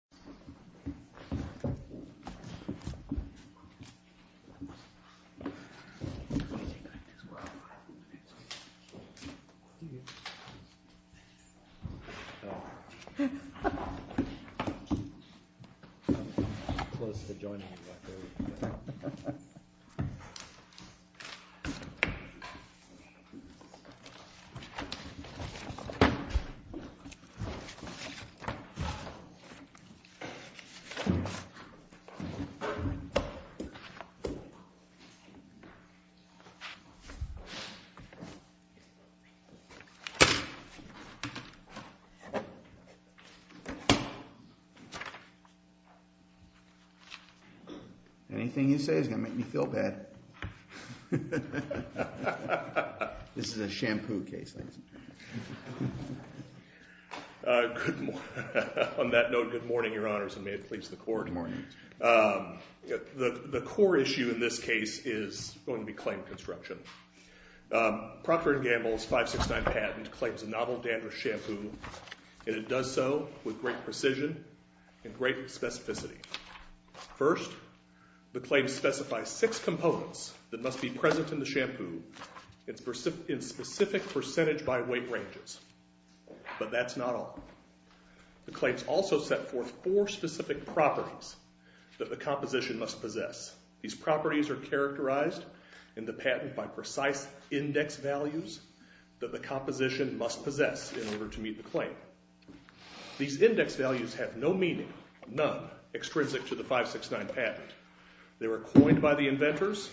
I'm going to take this off. Okay, it's okay. Thank you. Oh. I'm close to joining you, like, early. Okay. Okay. Anything you say is going to make me feel bad. This is a shampoo case. Good morning. On that note, good morning, Your Honors, and may it please the court. Good morning. The core issue in this case is going to be claim construction. Procter & Gamble's 569 patent claims a novel dandruff shampoo, and it does so with great precision and great specificity. First, the claim specifies six components that must be present in the shampoo in specific percentage by weight ranges. But that's not all. The claims also set forth four specific properties that the composition must possess. These properties are characterized in the patent by precise index values that the composition must possess in order to meet the claim. These index values have no meaning, none, extrinsic to the 569 patent. They were coined by the inventors,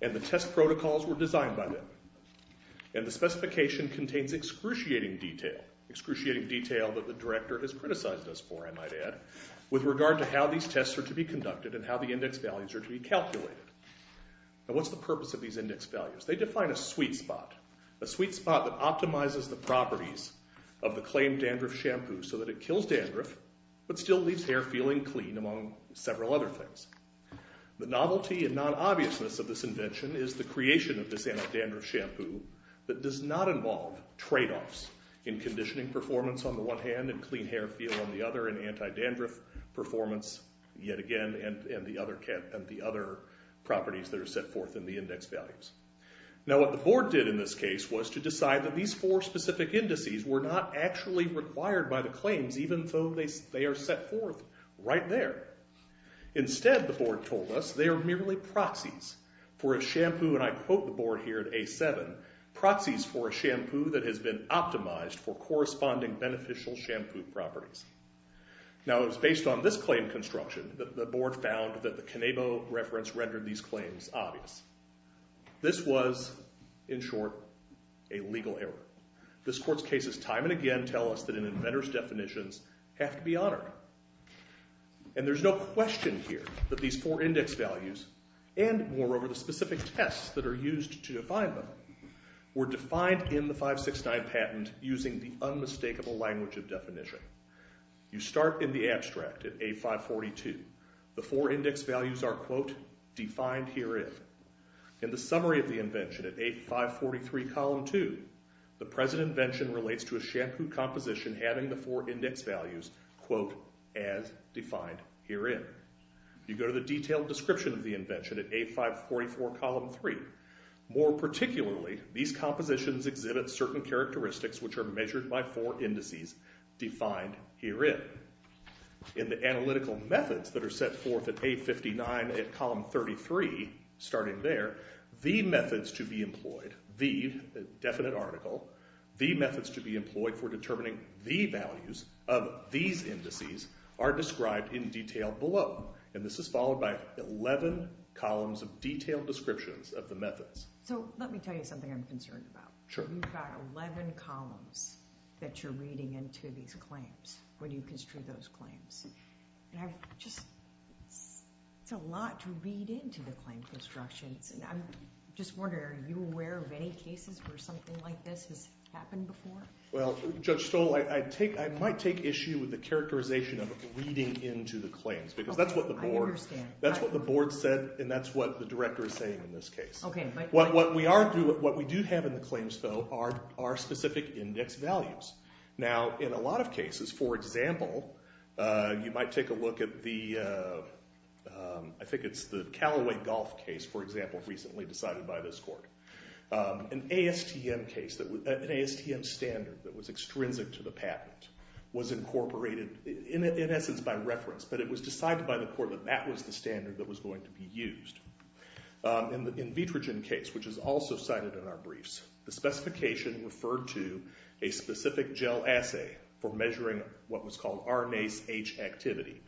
and the test protocols were designed by them. And the specification contains excruciating detail, excruciating detail that the director has criticized us for, I might add, with regard to how these tests are to be conducted and how the index values are to be calculated. Now, what's the purpose of these index values? They define a sweet spot, a sweet spot that optimizes the properties of the claimed dandruff shampoo so that it kills dandruff but still leaves hair feeling clean, among several other things. The novelty and non-obviousness of this invention is the creation of this anti-dandruff shampoo that does not involve tradeoffs in conditioning performance on the one hand and clean hair feel on the other in anti-dandruff performance, yet again, and the other properties that are set forth in the index values. Now, what the board did in this case was to decide that these four specific indices were not actually required by the claims even though they are set forth right there. Instead, the board told us, they are merely proxies for a shampoo, and I quote the board here at A7, proxies for a shampoo that has been optimized for corresponding beneficial shampoo properties. Now, it was based on this claim construction that the board found that the Canabo reference rendered these claims obvious. This was, in short, a legal error. This court's cases time and again tell us that an inventor's definitions have to be honored. And there's no question here that these four index values and, moreover, the specific tests that are used to define them were defined in the 569 patent using the unmistakable language of definition. You start in the abstract at A542. The four index values are, quote, defined herein. In the summary of the invention at A543 column 2, the present invention relates to a shampoo composition having the four index values, quote, as defined herein. You go to the detailed description of the invention at A544 column 3. More particularly, these compositions exhibit certain characteristics which are measured by four indices defined herein. In the analytical methods that are set forth at A59 at column 33, starting there, the methods to be employed, the definite article, the methods to be employed for determining the values of these indices are described in detail below. And this is followed by 11 columns of detailed descriptions of the methods. So let me tell you something I'm concerned about. Sure. You've got 11 columns that you're reading into these claims when you construe those claims. And I just, it's a lot to read into the claim constructions. And I'm just wondering, are you aware of any cases where something like this has happened before? Well, Judge Stoll, I might take issue with the characterization of reading into the claims. Because that's what the board said, and that's what the director is saying in this case. What we do have in the claims, though, are specific index values. Now, in a lot of cases, for example, you might take a look at the, I think it's the Callaway golf case, for example, recently decided by this court. An ASTM standard that was extrinsic to the patent was incorporated, in essence, by reference. But it was decided by the court that that was the standard that was going to be used. In the Invitrogen case, which is also cited in our briefs, the specification referred to a specific gel assay for measuring what was called RNase H activity.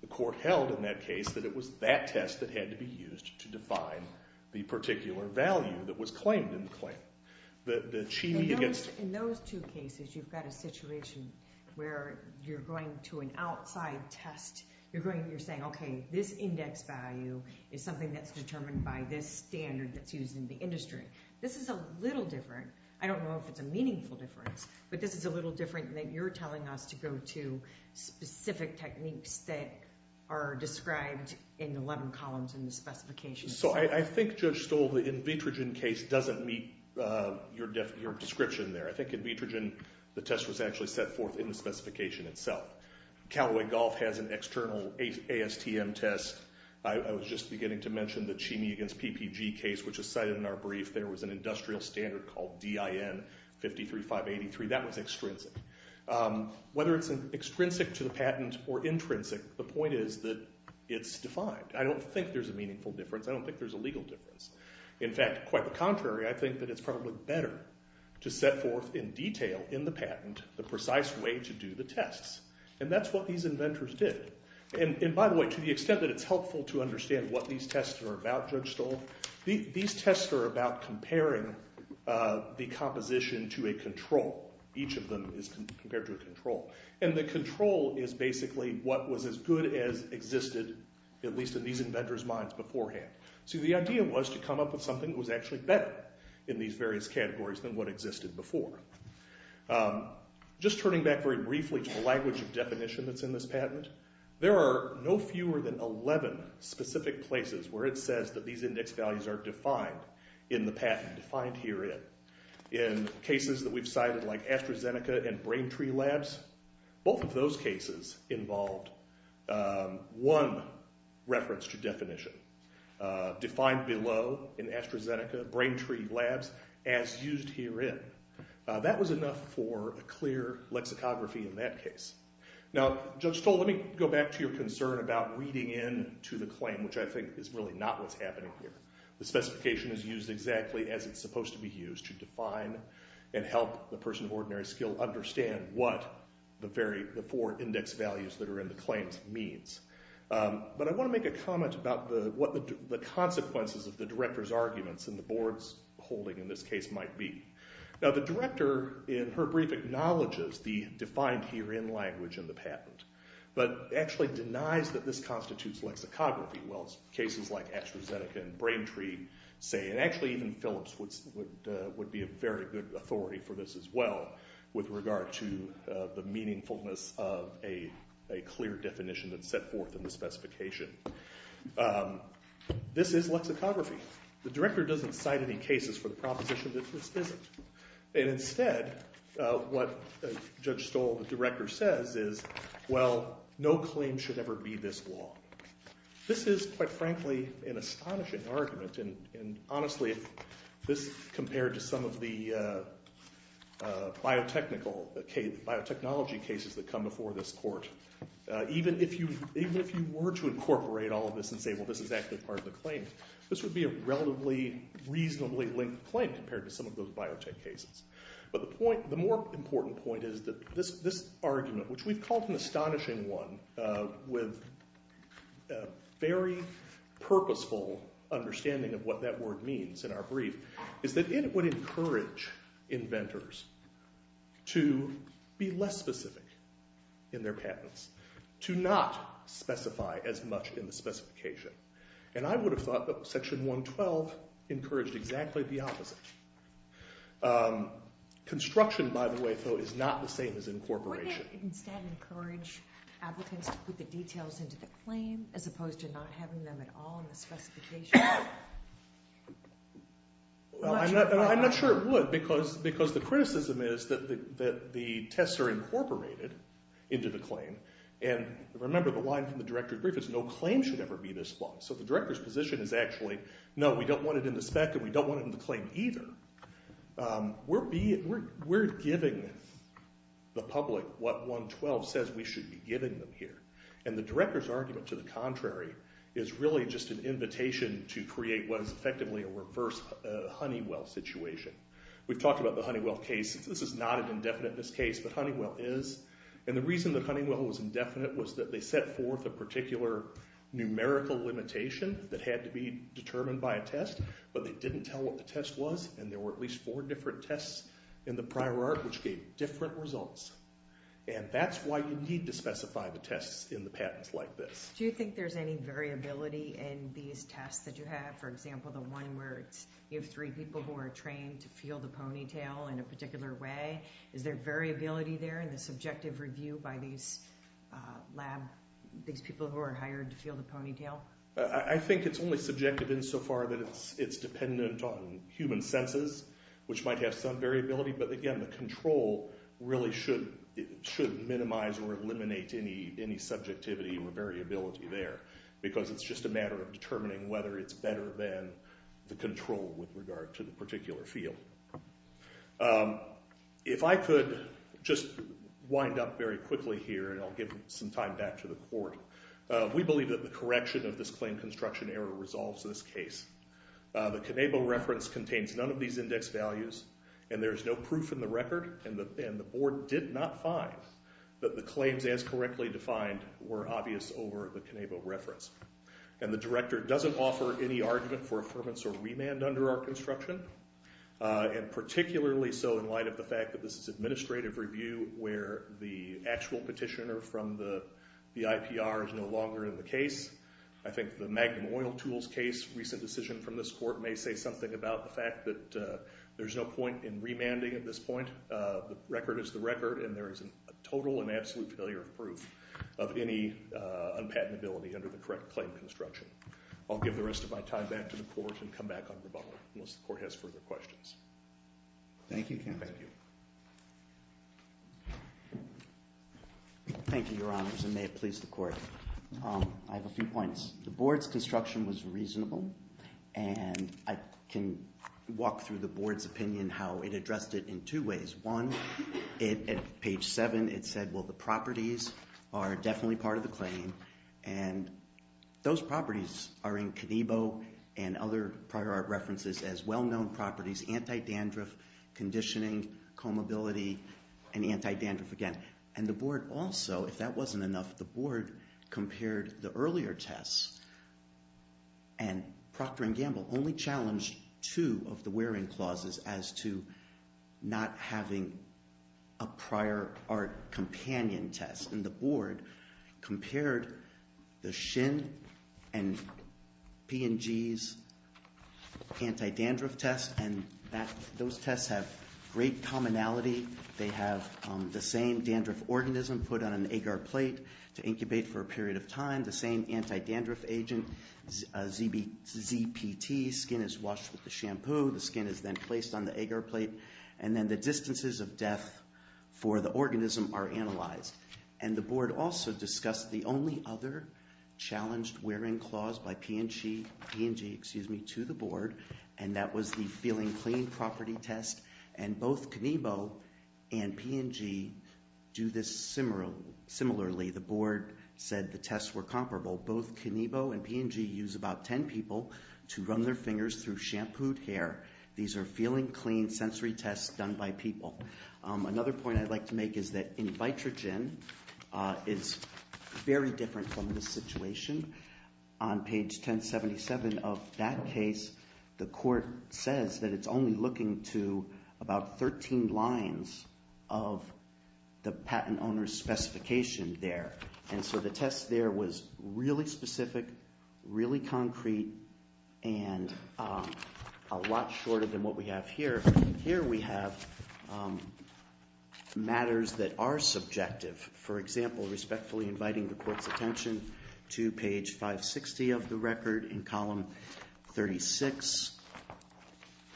The court held in that case that it was that test that had to be used to define the particular value that was claimed in the claim. In those two cases, you've got a situation where you're going to an outside test. You're saying, OK, this index value is something that's determined by this standard that's used in the industry. This is a little different. I don't know if it's a meaningful difference. But this is a little different in that you're telling us to go to specific techniques that are described in the 11 columns in the specification. So I think, Judge Stoll, the Invitrogen case doesn't meet your description there. I think Invitrogen, the test was actually set forth in the specification itself. Callaway Golf has an external ASTM test. I was just beginning to mention the Cheney against PPG case, which is cited in our brief. There was an industrial standard called DIN 53583. That was extrinsic. Whether it's extrinsic to the patent or intrinsic, the point is that it's defined. I don't think there's a meaningful difference. I don't think there's a legal difference. In fact, quite the contrary, I think that it's probably better to set forth in detail in the patent the precise way to do the tests. And that's what these inventors did. And by the way, to the extent that it's helpful to understand what these tests are about, Judge Stoll, these tests are about comparing the composition to a control. Each of them is compared to a control. And the control is basically what was as good as existed, at least in these inventors' minds beforehand. So the idea was to come up with something that was actually better in these various categories than what existed before. Just turning back very briefly to the language of definition that's in this patent, there are no fewer than 11 specific places where it says that these index values are defined in the patent, defined herein. In cases that we've cited like AstraZeneca and Brain Tree Labs, both of those cases involved one reference to definition. Defined below in AstraZeneca, Brain Tree Labs, as used herein. That was enough for a clear lexicography in that case. Now, Judge Stoll, let me go back to your concern about reading in to the claim, which I think is really not what's happening here. The specification is used exactly as it's supposed to be used to define and help the person of ordinary skill understand what the four index values that are in the claims means. But I want to make a comment about what the consequences of the director's arguments and the board's holding in this case might be. Now, the director, in her brief, acknowledges the defined herein language in the patent, but actually denies that this constitutes lexicography. Well, cases like AstraZeneca and Brain Tree say, and actually even Phillips would be a very good authority for this as well, with regard to the meaningfulness of a clear definition that's set forth in the specification. This is lexicography. The director doesn't cite any cases for the proposition that this isn't. And instead, what Judge Stoll, the director, says is, well, no claim should ever be this long. This is, quite frankly, an astonishing argument. And honestly, if this compared to some of the biotechnology cases that come before this court, even if you were to incorporate all of this and say, well, this is actually part of the claim, this would be a relatively reasonably linked claim compared to some of those biotech cases. But the more important point is that this argument, which we've called an astonishing one with a very purposeful understanding of what that word means in our brief, is that it would encourage inventors to be less specific in their patents, to not specify as much in the specification. And I would have thought that Section 112 encouraged exactly the opposite. Construction, by the way, though, is not the same as incorporation. Would it instead encourage applicants to put the details into the claim as opposed to not having them at all in the specification? I'm not sure it would, because the criticism is that the tests are incorporated into the claim. And remember, the line from the director's brief is no claim should ever be this long. So the director's position is actually, no, we don't want it in the spec, and we don't want it in the claim either. We're giving the public what 112 says we should be giving them here. And the director's argument to the contrary is really just an invitation to create what is effectively a reverse Honeywell situation. We've talked about the Honeywell case. This is not an indefiniteness case, but Honeywell is. And the reason that Honeywell was indefinite was that they set forth a particular numerical limitation that had to be determined by a test, but they didn't tell what the test was. And there were at least four different tests in the prior art which gave different results. And that's why you need to specify the tests in the patents like this. Do you think there's any variability in these tests that you have? For example, the one where you have three people who are trained to feel the ponytail in a particular way. Is there variability there in the subjective review by these people who are hired to feel the ponytail? I think it's only subjective insofar that it's dependent on human senses, which might have some variability. But again, the control really should minimize or eliminate any subjectivity or variability there, because it's just a matter of determining whether it's better than the control with regard to the particular field. If I could just wind up very quickly here, and I'll give some time back to the court. We believe that the correction of this claim construction error resolves this case. The Canabo reference contains none of these index values, and there's no proof in the record, and the board did not find that the claims as correctly defined were obvious over the Canabo reference. And the director doesn't offer any argument for affirmance or remand under our construction, and particularly so in light of the fact that this is administrative review where the actual petitioner from the IPR is no longer in the case. I think the Magnum oil tools case, recent decision from this court, may say something about the fact that there's no point in remanding at this point. The record is the record, and there is a total and absolute failure of proof of any unpatentability under the correct claim construction. I'll give the rest of my time back to the court and come back on rebuttal, unless the court has further questions. Thank you, counsel. Thank you. Thank you, Your Honors, and may it please the court. I have a few points. The board's construction was reasonable, and I can walk through the board's opinion how it addressed it in two ways. One, at page 7, it said, well, the properties are definitely part of the claim, and those properties are in Canabo and other prior art references as well-known properties, anti-dandruff, conditioning, combability, and anti-dandruff again. And the board also, if that wasn't enough, the board compared the earlier tests, and Procter & Gamble only challenged two of the wearing clauses as to not having a prior art companion test. And the board compared the Shin and P&G's anti-dandruff test, and those tests have great commonality. They have the same dandruff organism put on an agar plate to incubate for a period of time, the same anti-dandruff agent, ZPT, skin is washed with the shampoo, the skin is then placed on the agar plate, and then the distances of death for the organism are analyzed. And the board also discussed the only other challenged wearing clause by P&G to the board, and that was the feeling clean property test, and both Canabo and P&G do this similarly. The board said the tests were comparable. Both Canabo and P&G use about 10 people to run their fingers through shampooed hair. These are feeling clean sensory tests done by people. Another point I'd like to make is that in Vitrogen, it's very different from this situation. On page 1077 of that case, the court says that it's only looking to about 13 lines of the patent owner's specification there. And so the test there was really specific, really concrete, and a lot shorter than what we have here. Here we have matters that are subjective. For example, respectfully inviting the court's attention to page 560 of the record in column 36.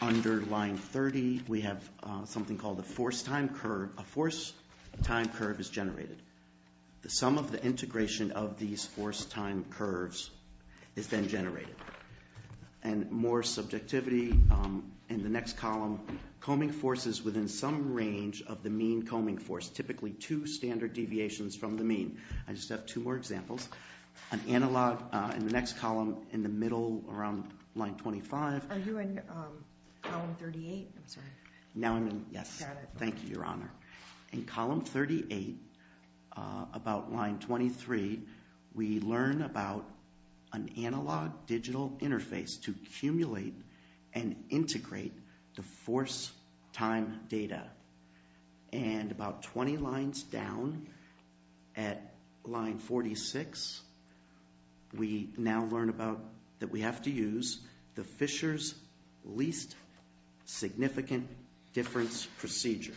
Under line 30, we have something called a force-time curve. A force-time curve is generated. The sum of the integration of these force-time curves is then generated. And more subjectivity in the next column, combing forces within some range of the mean combing force, typically two standard deviations from the mean. I just have two more examples. An analog in the next column in the middle around line 25. Are you in column 38? I'm sorry. Now I'm in, yes. Got it. Thank you, Your Honor. In column 38, about line 23, we learn about an analog digital interface to accumulate and integrate the force-time data. And about 20 lines down at line 46, we now learn that we have to use the Fisher's least significant difference procedure.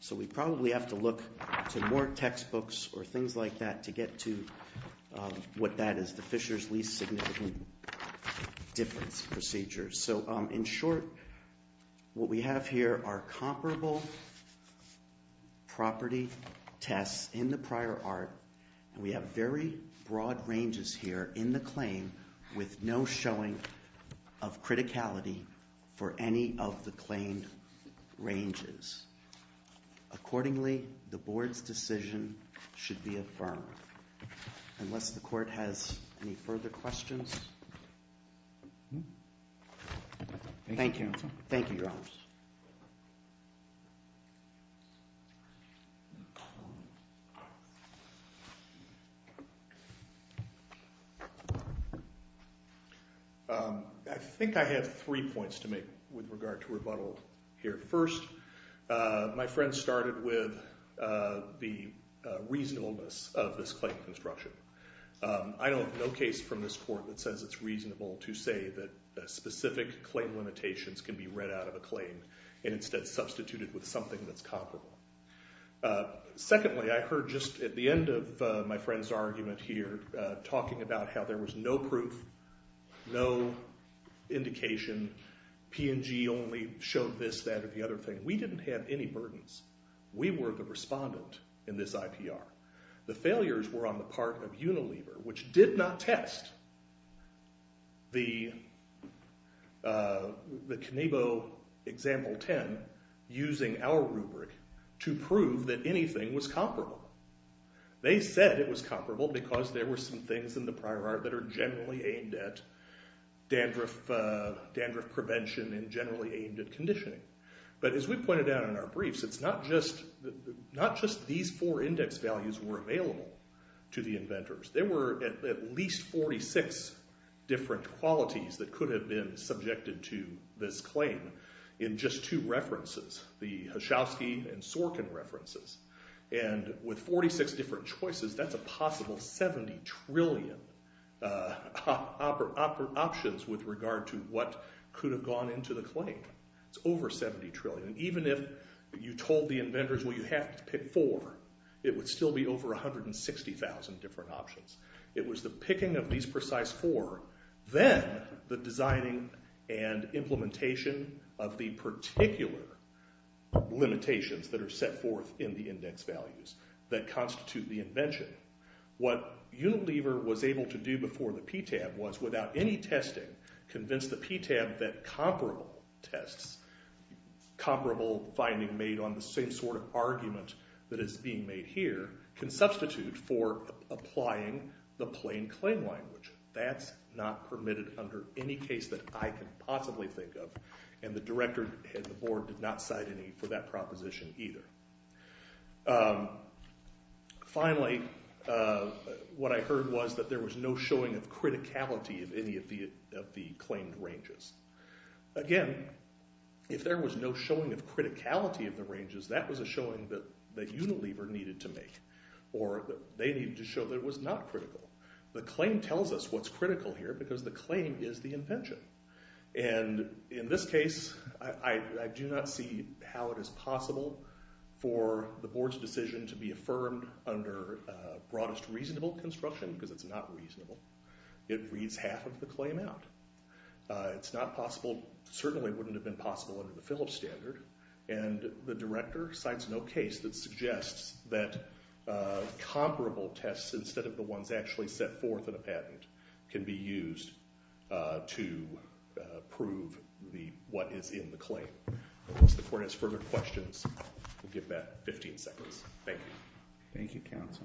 So we probably have to look to more textbooks or things like that to get to what that is, the Fisher's least significant difference procedure. So in short, what we have here are comparable property tests in the prior art. And we have very broad ranges here in the claim with no showing of criticality for any of the claimed ranges. Accordingly, the board's decision should be affirmed. Unless the court has any further questions. Thank you. Thank you, Your Honor. I think I have three points to make with regard to rebuttal here. First, my friend started with the reasonableness of this claim construction. I don't have no case from this court that says it's reasonable to say that specific claim limitations can be read out of a claim and instead substituted with something that's comparable. Secondly, I heard just at the end of my friend's argument here talking about how there was no proof, no indication. P&G only showed this, that, or the other thing. We didn't have any burdens. We were the respondent in this IPR. The failures were on the part of Unilever, which did not test the Knievo example 10 using our rubric to prove that anything was comparable. They said it was comparable because there were some things in the prior art that are generally aimed at dandruff prevention and generally aimed at conditioning. But as we pointed out in our briefs, it's not just these four index values were available to the inventors. There were at least 46 different qualities that could have been subjected to this claim in just two references. The Hachowski and Sorkin references. And with 46 different choices, that's a possible 70 trillion options with regard to what could have gone into the claim. It's over 70 trillion. Even if you told the inventors, well, you have to pick four, it would still be over 160,000 different options. It was the picking of these precise four, then the designing and implementation of the particular limitations that are set forth in the index values that constitute the invention. What Unilever was able to do before the PTAB was, without any testing, convince the PTAB that comparable tests, comparable finding made on the same sort of argument that is being made here, can substitute for applying the plain claim language. That's not permitted under any case that I can possibly think of. And the director and the board did not cite any for that proposition either. Finally, what I heard was that there was no showing of criticality of any of the claimed ranges. Again, if there was no showing of criticality of the ranges, that was a showing that Unilever needed to make. Or they needed to show that it was not critical. The claim tells us what's critical here because the claim is the invention. And in this case, I do not see how it is possible for the board's decision to be affirmed under broadest reasonable construction because it's not reasonable. It reads half of the claim out. It's not possible, certainly wouldn't have been possible under the Phillips standard. And the director cites no case that suggests that comparable tests instead of the ones actually set forth in a patent can be used to prove what is in the claim. Unless the court has further questions, we'll give that 15 seconds. Thank you. Thank you, counsel.